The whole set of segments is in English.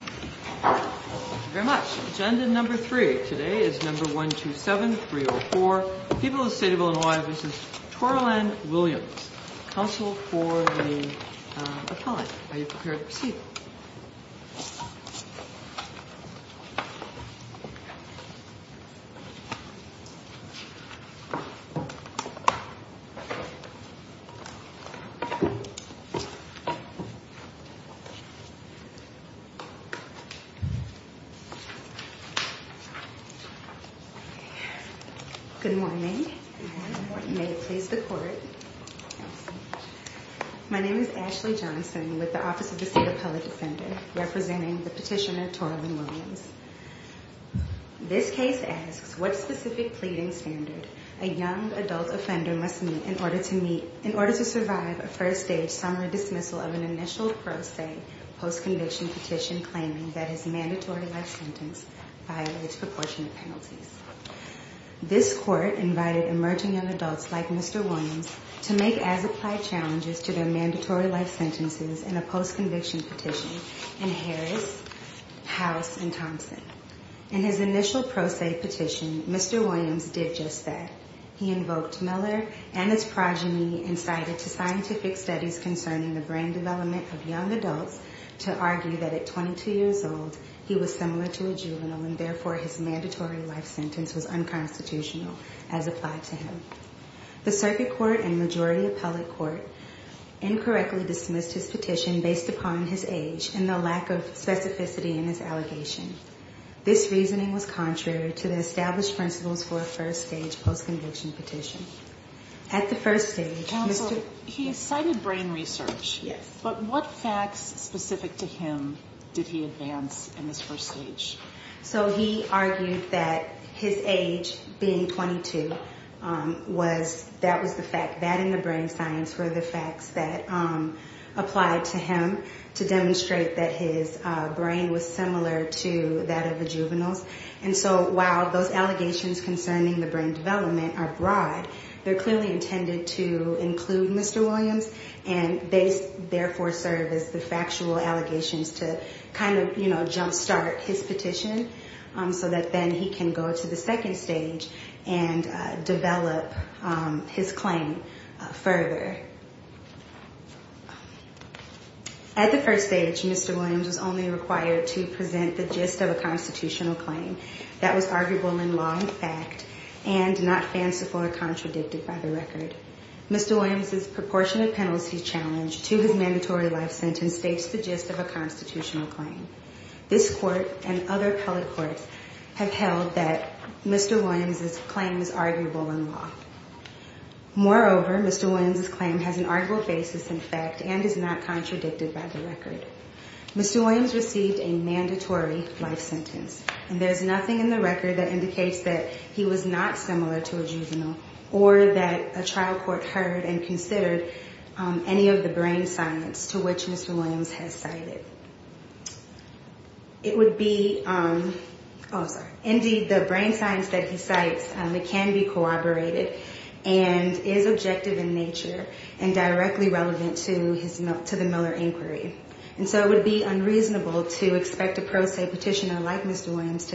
Thank you very much. Agenda number three today is number 127304. People, the State of Illinois v. Toralyn Williams. Counsel for the appellant. Are you prepared to proceed? Good morning. May it please the Court. My name is Ashley Johnson with the Office of the State Appellate Defender, representing the petitioner Toralyn Williams. This case asks, what specific pleading standard a young adult offender must meet in order to meet in order to survive a first-stage summary dismissal of an initial pro se post-conviction petition claiming that his mandatory life sentence violates proportionate penalties? This Court invited emerging young adults like Mr. Williams to make as-applied challenges to their mandatory life sentences in a post-conviction petition in Harris, House, and Thompson. In his initial pro se petition, Mr. Williams did just that. He invoked Miller and his progeny and cited to scientific studies concerning the brain development of young adults to argue that at 22 years old, he was similar to a juvenile and therefore his mandatory life sentence was unconstitutional as applied to him. The circuit court and majority appellate court incorrectly dismissed his petition based upon his age and the lack of specificity in his allegation. This reasoning was contrary to the established principles for a first-stage post-conviction petition. At the first stage, Mr. Counsel, he cited brain research. Yes. But what facts specific to him did he advance in this first stage? So he argued that his age being 22 was, that was the fact, that and the brain science were the facts that applied to him to demonstrate that his brain was similar to that of the juveniles. And so while those allegations concerning the brain development are broad, they're clearly intended to include Mr. Williams and they therefore serve as the factual allegations to kind of, you know, jumpstart his petition so that then he can go to the second stage and develop his claim further. At the first stage, Mr. Williams was only required to present the gist of a constitutional claim that was arguable in law and fact and not fanciful or contradicted by the record. Mr. Williams's proportionate penalty challenge to his mandatory life sentence states the gist of a constitutional claim. This court and other appellate courts have held that Mr. Williams's claim is arguable in law. Moreover, Mr. Williams's claim has an arguable basis in fact and is not contradicted by the record. Mr. Williams received a mandatory life sentence and there's nothing in the record that indicates that he was not similar to a juvenile or that a trial court heard and considered any of the brain science to which Mr. Williams has cited. It would be indeed the brain science that he cites can be corroborated and is objective in nature and directly relevant to the Miller inquiry. And so it would be unreasonable to expect a pro se petitioner like Mr. Williams's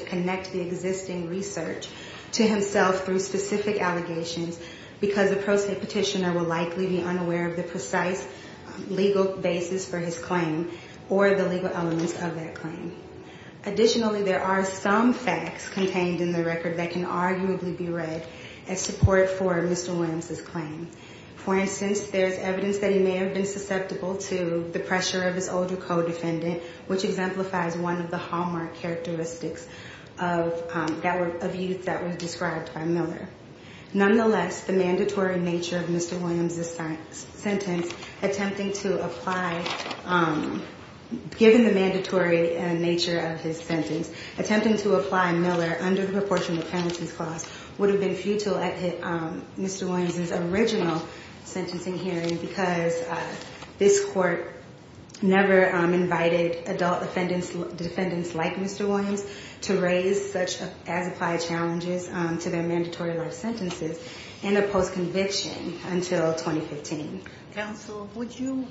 claim or the legal elements of that claim. Additionally, there are some facts contained in the record that can arguably be read as support for Mr. Williams's claim. For instance, there's evidence that he may have been susceptible to the pressure of his older co-defendant, which exemplifies one of the hallmark characteristics of youth that was described by Miller. Nonetheless, the mandatory nature of Mr. Williams's sentence, attempting to apply, given the mandatory nature of his sentence, attempting to apply Miller under the proportionate penalties clause would have been futile at Mr. Williams's original sentencing hearing because this court never invited adult defendants like Mr. Williams to raise such as applied challenges to their mandatory life sentences in a post conviction until 2015. Counsel, would you,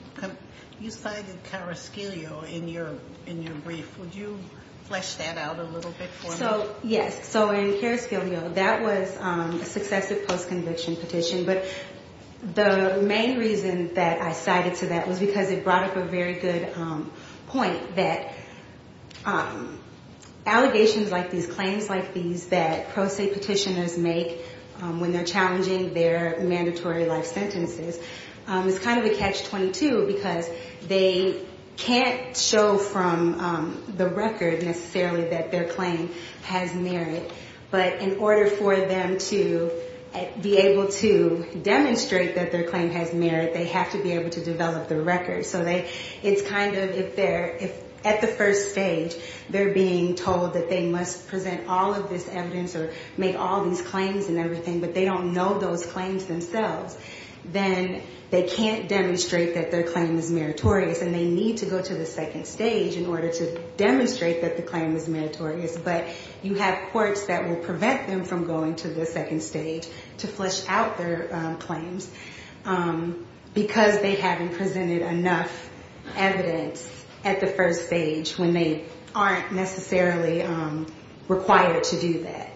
you cited Carrasquillo in your brief. Would you flesh that out a little bit for me? Yes. So in Carrasquillo, that was a successive post conviction petition. But the main reason that I cited to that was because it brought up a very good point that allegations like these claims like these that pro se petitioners make when they're challenging their mandatory life sentences is kind of a catch 22 because they can't show from the record necessarily that their claim has merit. But in order for them to be able to demonstrate that their claim has merit, they have to be able to develop the record. So they it's kind of if they're at the first stage, they're being told that they must present all of this evidence or make all these claims and everything, but they don't know those claims themselves. Then they can't demonstrate that their claim is meritorious and they need to go to the second stage in order to demonstrate that the claim is meritorious. But you have courts that will prevent them from going to the second stage to flesh out their claims because they haven't presented enough evidence at the first stage when they aren't necessarily required to do that.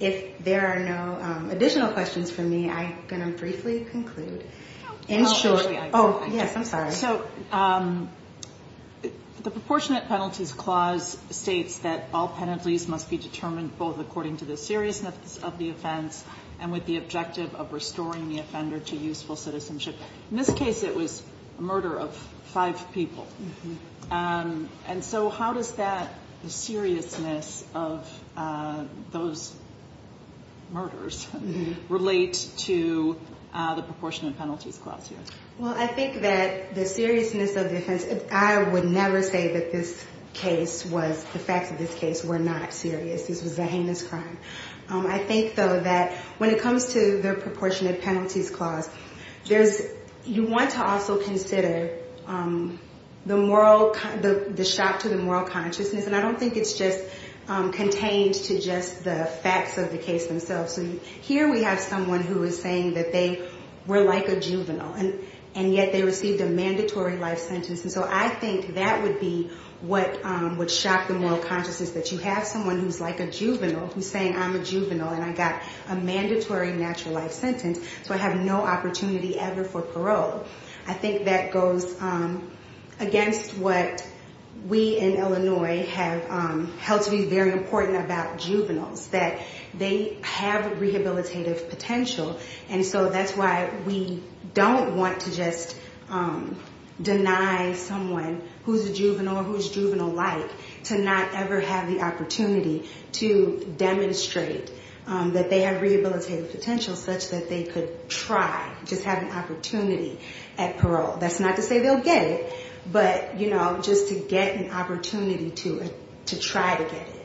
If there are no additional questions for me, I'm going to briefly conclude. So the proportionate penalties clause states that all penalties must be determined both according to the seriousness of the offense and with the objective of restoring the offender to useful citizenship. In this case, it was a murder of five people. And so how does that seriousness of those murders relate to the proportionate penalties clause here? Well, I think that the seriousness of the offense, I would never say that this case was, the facts of this case were not serious. This was a heinous crime. I think, though, that when it comes to the proportionate penalties clause, you want to also consider the shock to the moral consciousness. And I don't think it's just contained to just the facts of the case themselves. Here we have someone who is saying that they were like a juvenile and yet they received a mandatory life sentence. And so I think that would be what would shock the moral consciousness, that you have someone who's like a juvenile who's saying I'm a juvenile and I got a mandatory natural life sentence, so I have no opportunity ever for parole. I think that goes against what we in Illinois have held to be very important about juveniles, that they have rehabilitative potential. And so that's why we don't want to just deny someone who's a juvenile or who's juvenile-like to not ever have the opportunity to demonstrate that they have rehabilitative potential such that they could try, just have an opportunity at parole. That's not to say they'll get it, but, you know, just to get an opportunity to try to get it.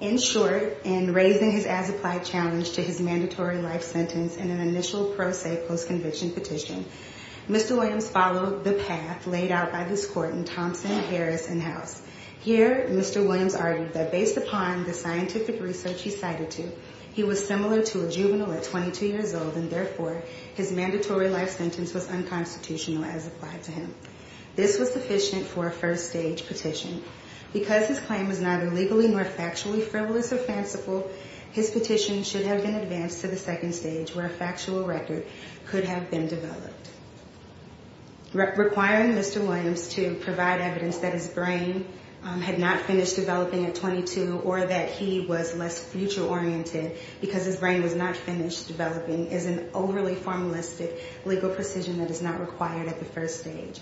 In short, in raising his as-applied challenge to his mandatory life sentence in an initial pro se post-conviction petition, Mr. Williams followed the path laid out by this court in Thompson, Harris, and House. Here, Mr. Williams argued that based upon the scientific research he cited to, he was similar to a juvenile at 22 years old, and therefore his mandatory life sentence was unconstitutional as applied to him. This was sufficient for a first stage petition. Because his claim was neither legally nor factually frivolous or fanciful, his petition should have been advanced to the second stage where a factual record could have been developed. Requiring Mr. Williams to provide evidence that his brain had not finished developing at 22 or that he was less future-oriented because his brain was not finished developing is an overly formalistic legal precision that is not required at the first stage.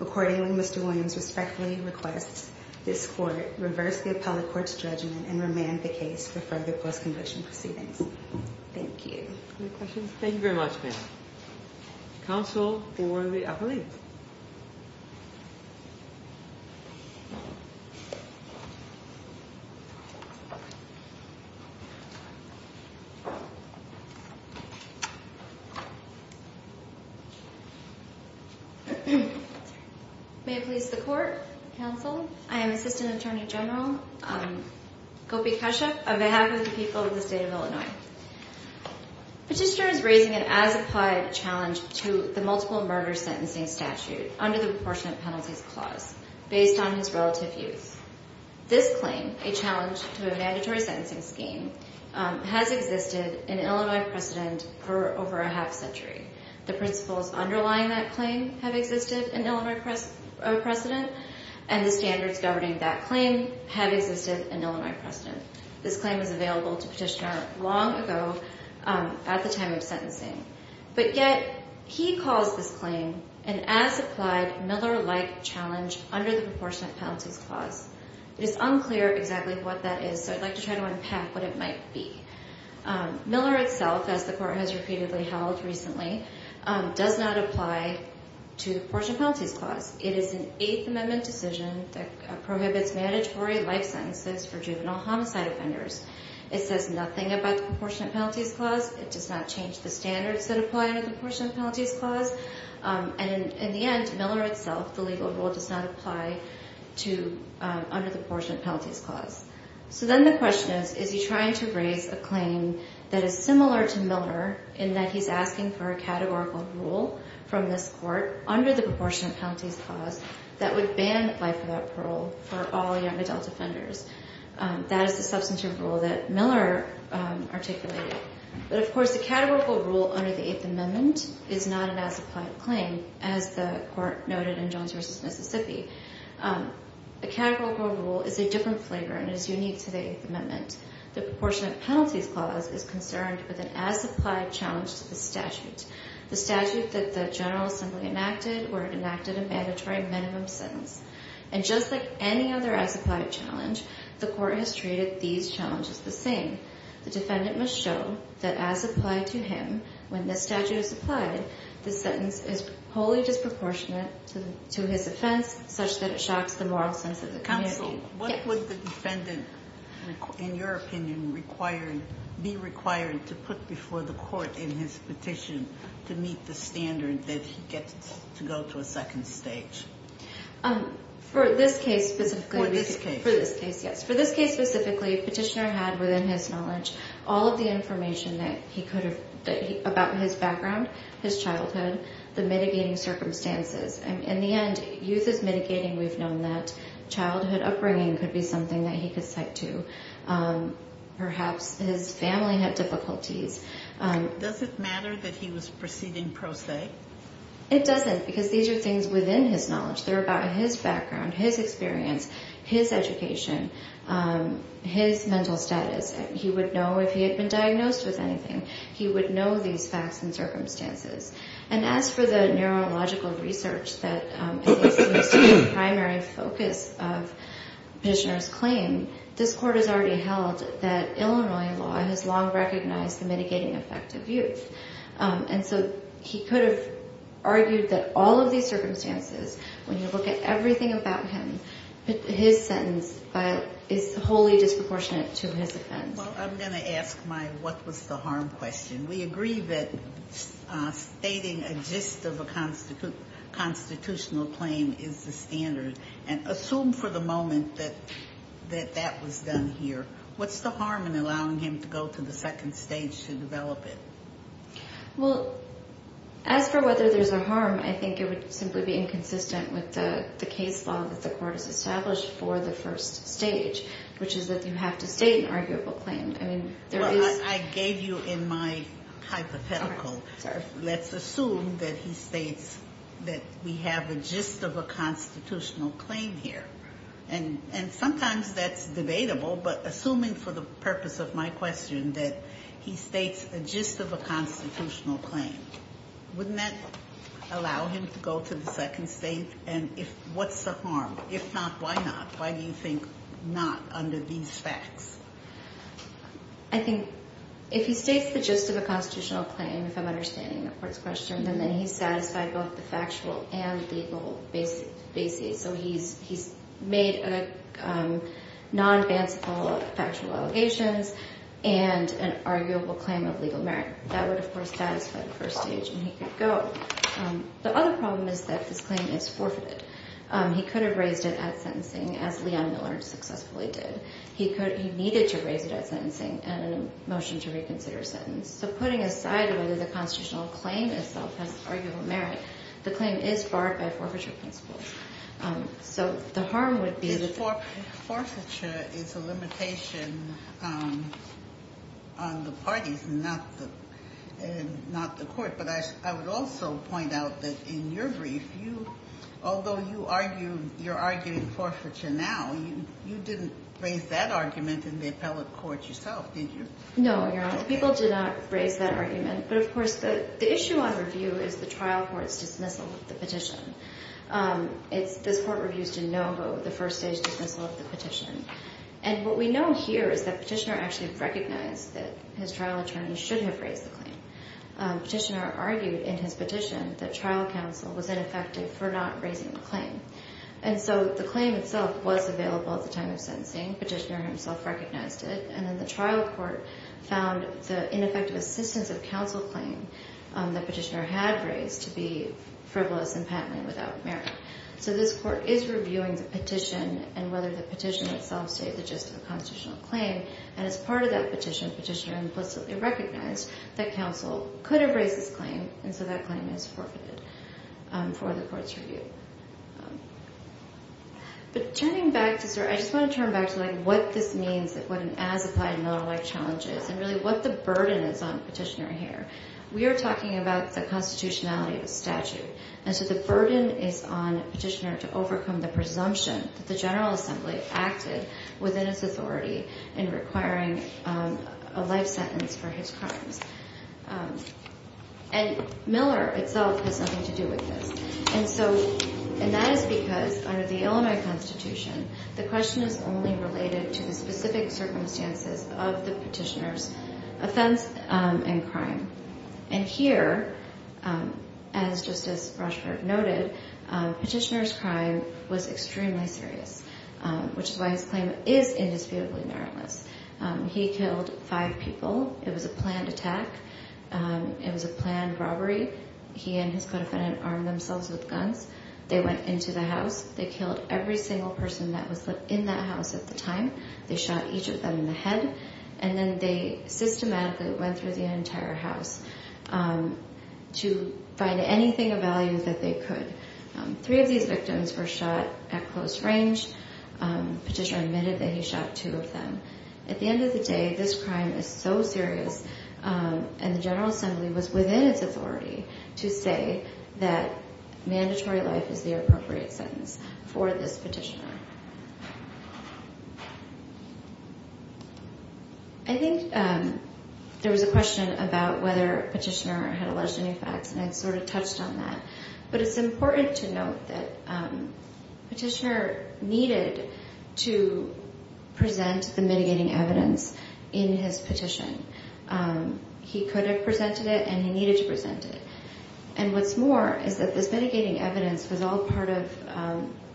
Accordingly, Mr. Williams respectfully requests this court reverse the appellate court's judgment and remand the case for further post-conviction proceedings. Thank you. Any questions? Thank you very much, ma'am. Counsel for the appellate. May it please the court, counsel, I am Assistant Attorney General Gopi Kashyap on behalf of the people of the state of Illinois. Petitioner is raising an as-applied challenge to the multiple murder sentencing statute under the Proportionate Penalties Clause based on his relative youth. This claim, a challenge to a mandatory sentencing scheme, has existed in Illinois precedent for over a half century. The principles underlying that claim have existed in Illinois precedent, and the standards governing that claim have existed in Illinois precedent. This claim was available to Petitioner long ago at the time of sentencing. But yet he calls this claim an as-applied Miller-like challenge under the Proportionate Penalties Clause. It is unclear exactly what that is, so I'd like to try to unpack what it might be. Miller itself, as the court has repeatedly held recently, does not apply to the Proportionate Penalties Clause. It is an Eighth Amendment decision that prohibits mandatory life sentences for juvenile homicide offenders. It says nothing about the Proportionate Penalties Clause. It does not change the standards that apply under the Proportionate Penalties Clause. And in the end, Miller itself, the legal rule, does not apply under the Proportionate Penalties Clause. So then the question is, is he trying to raise a claim that is similar to Miller in that he's asking for a categorical rule from this court under the Proportionate Penalties Clause that would ban life without parole for all young adult offenders? That is the substantive rule that Miller articulated. But, of course, a categorical rule under the Eighth Amendment is not an as-applied claim, as the court noted in Jones v. Mississippi. A categorical rule is a different flavor and is unique to the Eighth Amendment. The Proportionate Penalties Clause is concerned with an as-applied challenge to the statute. The statute that the General Assembly enacted, where it enacted a mandatory minimum sentence. And just like any other as-applied challenge, the court has treated these challenges the same. The defendant must show that as applied to him, when this statute is applied, the sentence is wholly disproportionate to his offense, such that it shocks the moral sense of the counsel. So what would the defendant, in your opinion, be required to put before the court in his petition to meet the standard that he gets to go to a second stage? For this case, specifically, Petitioner had within his knowledge all of the information about his background, his childhood, the mitigating circumstances. In the end, youth is mitigating. We've known that childhood upbringing could be something that he could cite to. Perhaps his family had difficulties. Does it matter that he was proceeding pro se? It doesn't, because these are things within his knowledge. They're about his background, his experience, his education, his mental status. He would know if he had been diagnosed with anything. He would know these facts and circumstances. And as for the neurological research that seems to be the primary focus of Petitioner's claim, this court has already held that Illinois law has long recognized the mitigating effect of youth. And so he could have argued that all of these circumstances, when you look at everything about him, his sentence is wholly disproportionate to his offense. Well, I'm going to ask my what was the harm question. We agree that stating a gist of a constitutional claim is the standard. And assume for the moment that that was done here. What's the harm in allowing him to go to the second stage to develop it? Well, as for whether there's a harm, I think it would simply be inconsistent with the case law that the court has established for the first stage, which is that you have to state an arguable claim. Well, I gave you in my hypothetical. Let's assume that he states that we have a gist of a constitutional claim here. And sometimes that's debatable. But assuming for the purpose of my question that he states a gist of a constitutional claim, wouldn't that allow him to go to the second stage? And what's the harm? If not, why not? Why do you think not under these facts? I think if he states the gist of a constitutional claim, if I'm understanding the court's question, then he's satisfied both the factual and legal basis. So he's made a non-advanceable factual allegations and an arguable claim of legal merit. That would, of course, satisfy the first stage and he could go. The other problem is that this claim is forfeited. He could have raised it at sentencing, as Leon Miller successfully did. He needed to raise it at sentencing and a motion to reconsider a sentence. So putting aside whether the constitutional claim itself has arguable merit, the claim is barred by forfeiture principles. So the harm would be that- Forfeiture is a limitation on the parties, not the court. But I would also point out that in your brief, although you argued you're arguing forfeiture now, you didn't raise that argument in the appellate court yourself, did you? No, Your Honor. The people did not raise that argument. But, of course, the issue on review is the trial court's dismissal of the petition. This court reviews de novo the first stage dismissal of the petition. And what we know here is that Petitioner actually recognized that his trial attorney should have raised the claim. Petitioner argued in his petition that trial counsel was ineffective for not raising the claim. And so the claim itself was available at the time of sentencing. Petitioner himself recognized it. And then the trial court found the ineffective assistance of counsel claim that Petitioner had raised to be frivolous and patently without merit. So this court is reviewing the petition and whether the petition itself states it's just a constitutional claim. And as part of that petition, Petitioner implicitly recognized that counsel could have raised this claim, and so that claim is forfeited for the court's review. But turning back to sort of ‑‑ I just want to turn back to what this means, what an as-applied not-alike challenge is, and really what the burden is on Petitioner here. We are talking about the constitutionality of the statute. And so the burden is on Petitioner to overcome the presumption that the General Assembly acted within its authority in requiring a life sentence for his crimes. And Miller itself has nothing to do with this. And that is because under the Illinois Constitution, the question is only related to the specific circumstances of the Petitioner's offense and crime. And here, as Justice Rochford noted, Petitioner's crime was extremely serious, which is why his claim is indisputably meritless. He killed five people. It was a planned attack. It was a planned robbery. He and his co‑defendant armed themselves with guns. They went into the house. They killed every single person that was in that house at the time. They shot each of them in the head. And then they systematically went through the entire house to find anything of value that they could. Three of these victims were shot at close range. Petitioner admitted that he shot two of them. At the end of the day, this crime is so serious, and the General Assembly was within its authority to say that mandatory life is the appropriate sentence for this Petitioner. I think there was a question about whether Petitioner had alleged any facts, and I sort of touched on that. But it's important to note that Petitioner needed to present the mitigating evidence in his petition. He could have presented it, and he needed to present it. And what's more is that this mitigating evidence was all part of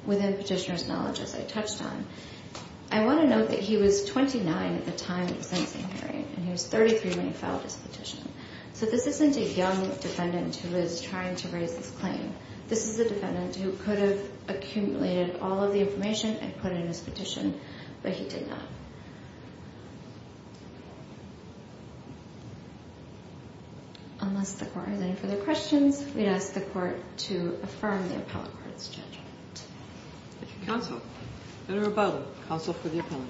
within Petitioner's knowledge, as I touched on. I want to note that he was 29 at the time of the sentencing hearing, and he was 33 when he filed his petition. So this isn't a young defendant who is trying to raise his claim. This is a defendant who could have accumulated all of the information and put it in his petition, but he did not. Unless the Court has any further questions, we'd ask the Court to affirm the Appellate Court's judgment. Thank you, Counsel. Senator Abado, Counsel for the Appellant.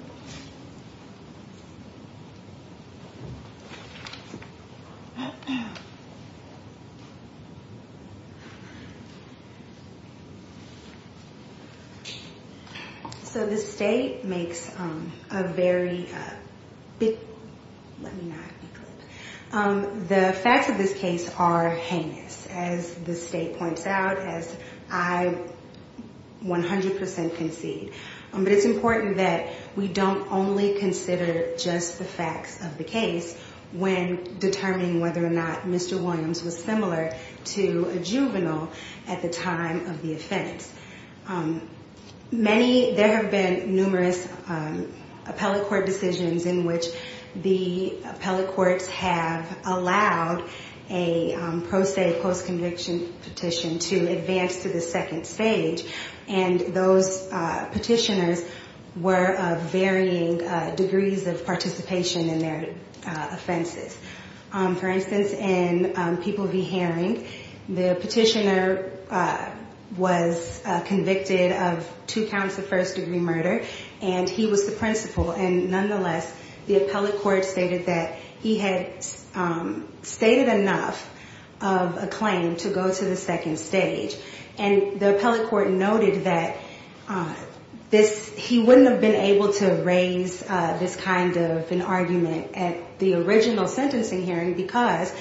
So the State makes a very big—let me not eclipse. The facts of this case are heinous, as the State points out, as I 100 percent concede. But it's important that we don't only consider just the facts of the case when determining whether or not Mr. Williams was similar to a juvenile at the time of the offense. Many—there have been numerous Appellate Court decisions in which the Appellate Courts have allowed a pro se post-conviction petition to advance to the second stage. And those petitioners were of varying degrees of participation in their offenses. For instance, in People v. Herring, the petitioner was convicted of two counts of first degree murder, and he was the principal. And nonetheless, the Appellate Court stated that he had stated enough of a claim to go to the second stage. And the Appellate Court noted that this—he wouldn't have been able to raise this kind of an argument at the original sentencing hearing, because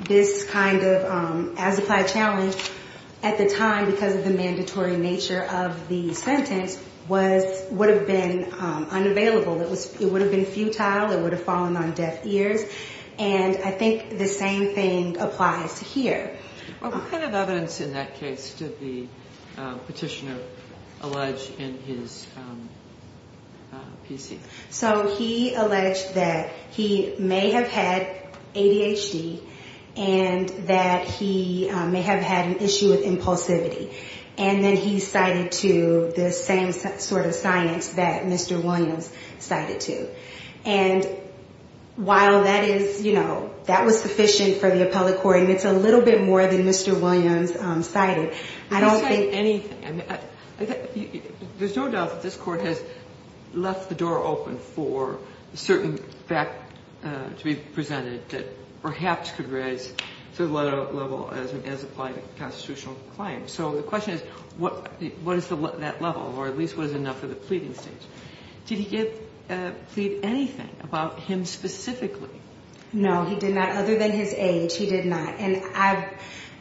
this kind of as-applied challenge at the time, because of the mandatory nature of the sentence, would have been unavailable. It would have been futile. It would have fallen on deaf ears. And I think the same thing applies to here. What kind of evidence in that case did the petitioner allege in his PC? So he alleged that he may have had ADHD and that he may have had an issue with impulsivity. And then he cited to the same sort of science that Mr. Williams cited to. And while that is, you know, that was sufficient for the Appellate Court, and it's a little bit more than Mr. Williams cited, I don't think— I didn't cite anything. There's no doubt that this Court has left the door open for a certain fact to be presented that perhaps could raise to the level as-applied constitutional claim. So the question is, what is that level, or at least what is enough for the pleading stage? Did he plead anything about him specifically? No, he did not. Other than his age, he did not.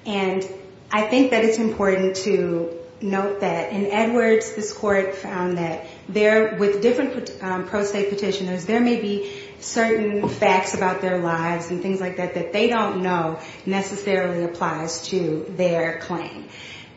And I think that it's important to note that in Edwards, this Court found that with different pro se petitioners, there may be certain facts about their lives and things like that that they don't know necessarily applies to their claim.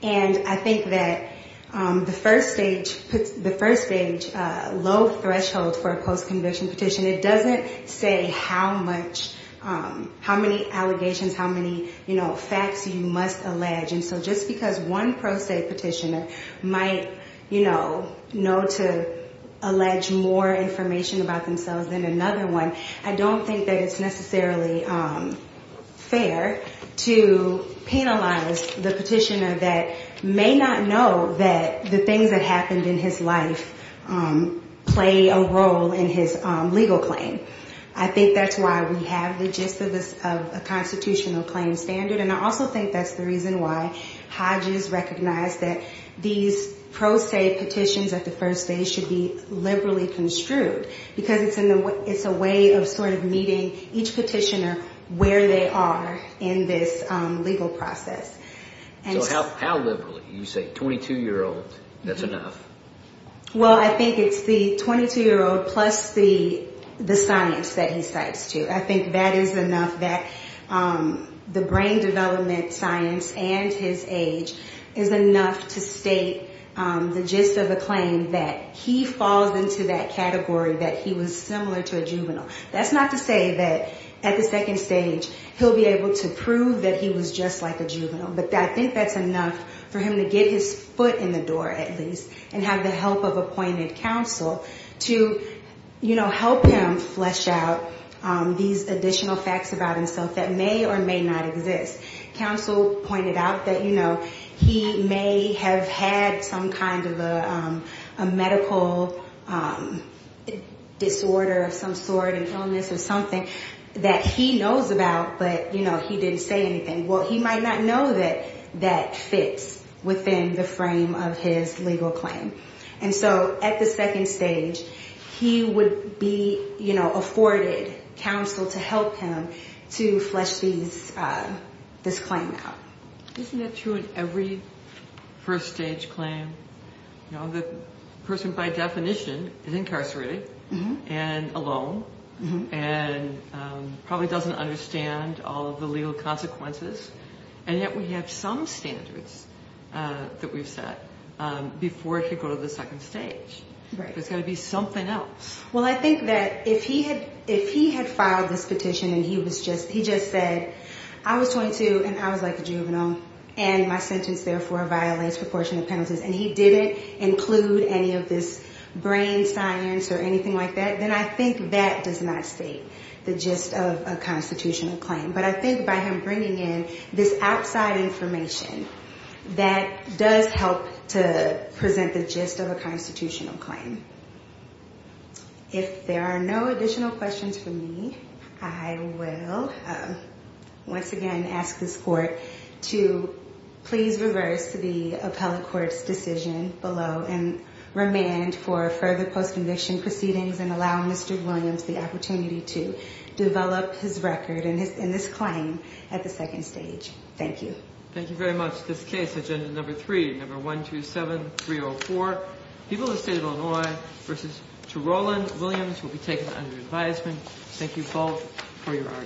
And I think that the first stage—the first stage low threshold for a post-conviction petition, it doesn't say how much—how many allegations, how many, you know, facts you must allege. And so just because one pro se petitioner might, you know, know to allege more information about themselves than another one, I don't think that it's necessarily fair to penalize the petitioner for having a post-conviction petition. It's fair to penalize a petitioner that may not know that the things that happened in his life play a role in his legal claim. I think that's why we have the gist of a constitutional claim standard, and I also think that's the reason why Hodges recognized that these pro se petitions at the first stage should be liberally construed, because it's a way of sort of meeting each petitioner where they are in this legal process. So how liberally? You say 22-year-old, that's enough? Well, I think it's the 22-year-old plus the science that he cites, too. I think that is enough, that the brain development science and his age is enough to state the gist of a claim that he falls into that category, that he was similar to a juvenile. That's not to say that at the second stage, he'll be able to prove that he was just like a juvenile, but I think that's enough for him to get his foot in the door, at least, and have the help of appointed counsel to, you know, help him flesh out these additional facts about himself that may or may not exist. Counsel pointed out that, you know, he may have had some kind of a medical disorder of some sort, and he may have had some kind of a mental health condition, and he may have had some kind of a mental health condition. He may have had some kind of an illness or something that he knows about, but, you know, he didn't say anything. Well, he might not know that that fits within the frame of his legal claim. And so at the second stage, he would be, you know, afforded counsel to help him to flesh these, this claim out. Isn't that true in every first-stage claim? You know, the person, by definition, is incarcerated and alone and probably doesn't understand all of the legal consequences. And yet we have some standards that we've set before he could go to the second stage. There's got to be something else. Well, I think that if he had, if he had filed this petition and he was just, he just said, I was 22 and I was like a juvenile, and my sentence, therefore, violates proportionate penalties. If he didn't include any of this brain science or anything like that, then I think that does not state the gist of a constitutional claim. But I think by him bringing in this outside information, that does help to present the gist of a constitutional claim. If there are no additional questions for me, I will, once again, ask this Court to please reverse the appellate court's decision. And remand for further post-conviction proceedings and allow Mr. Williams the opportunity to develop his record in this claim at the second stage. Thank you.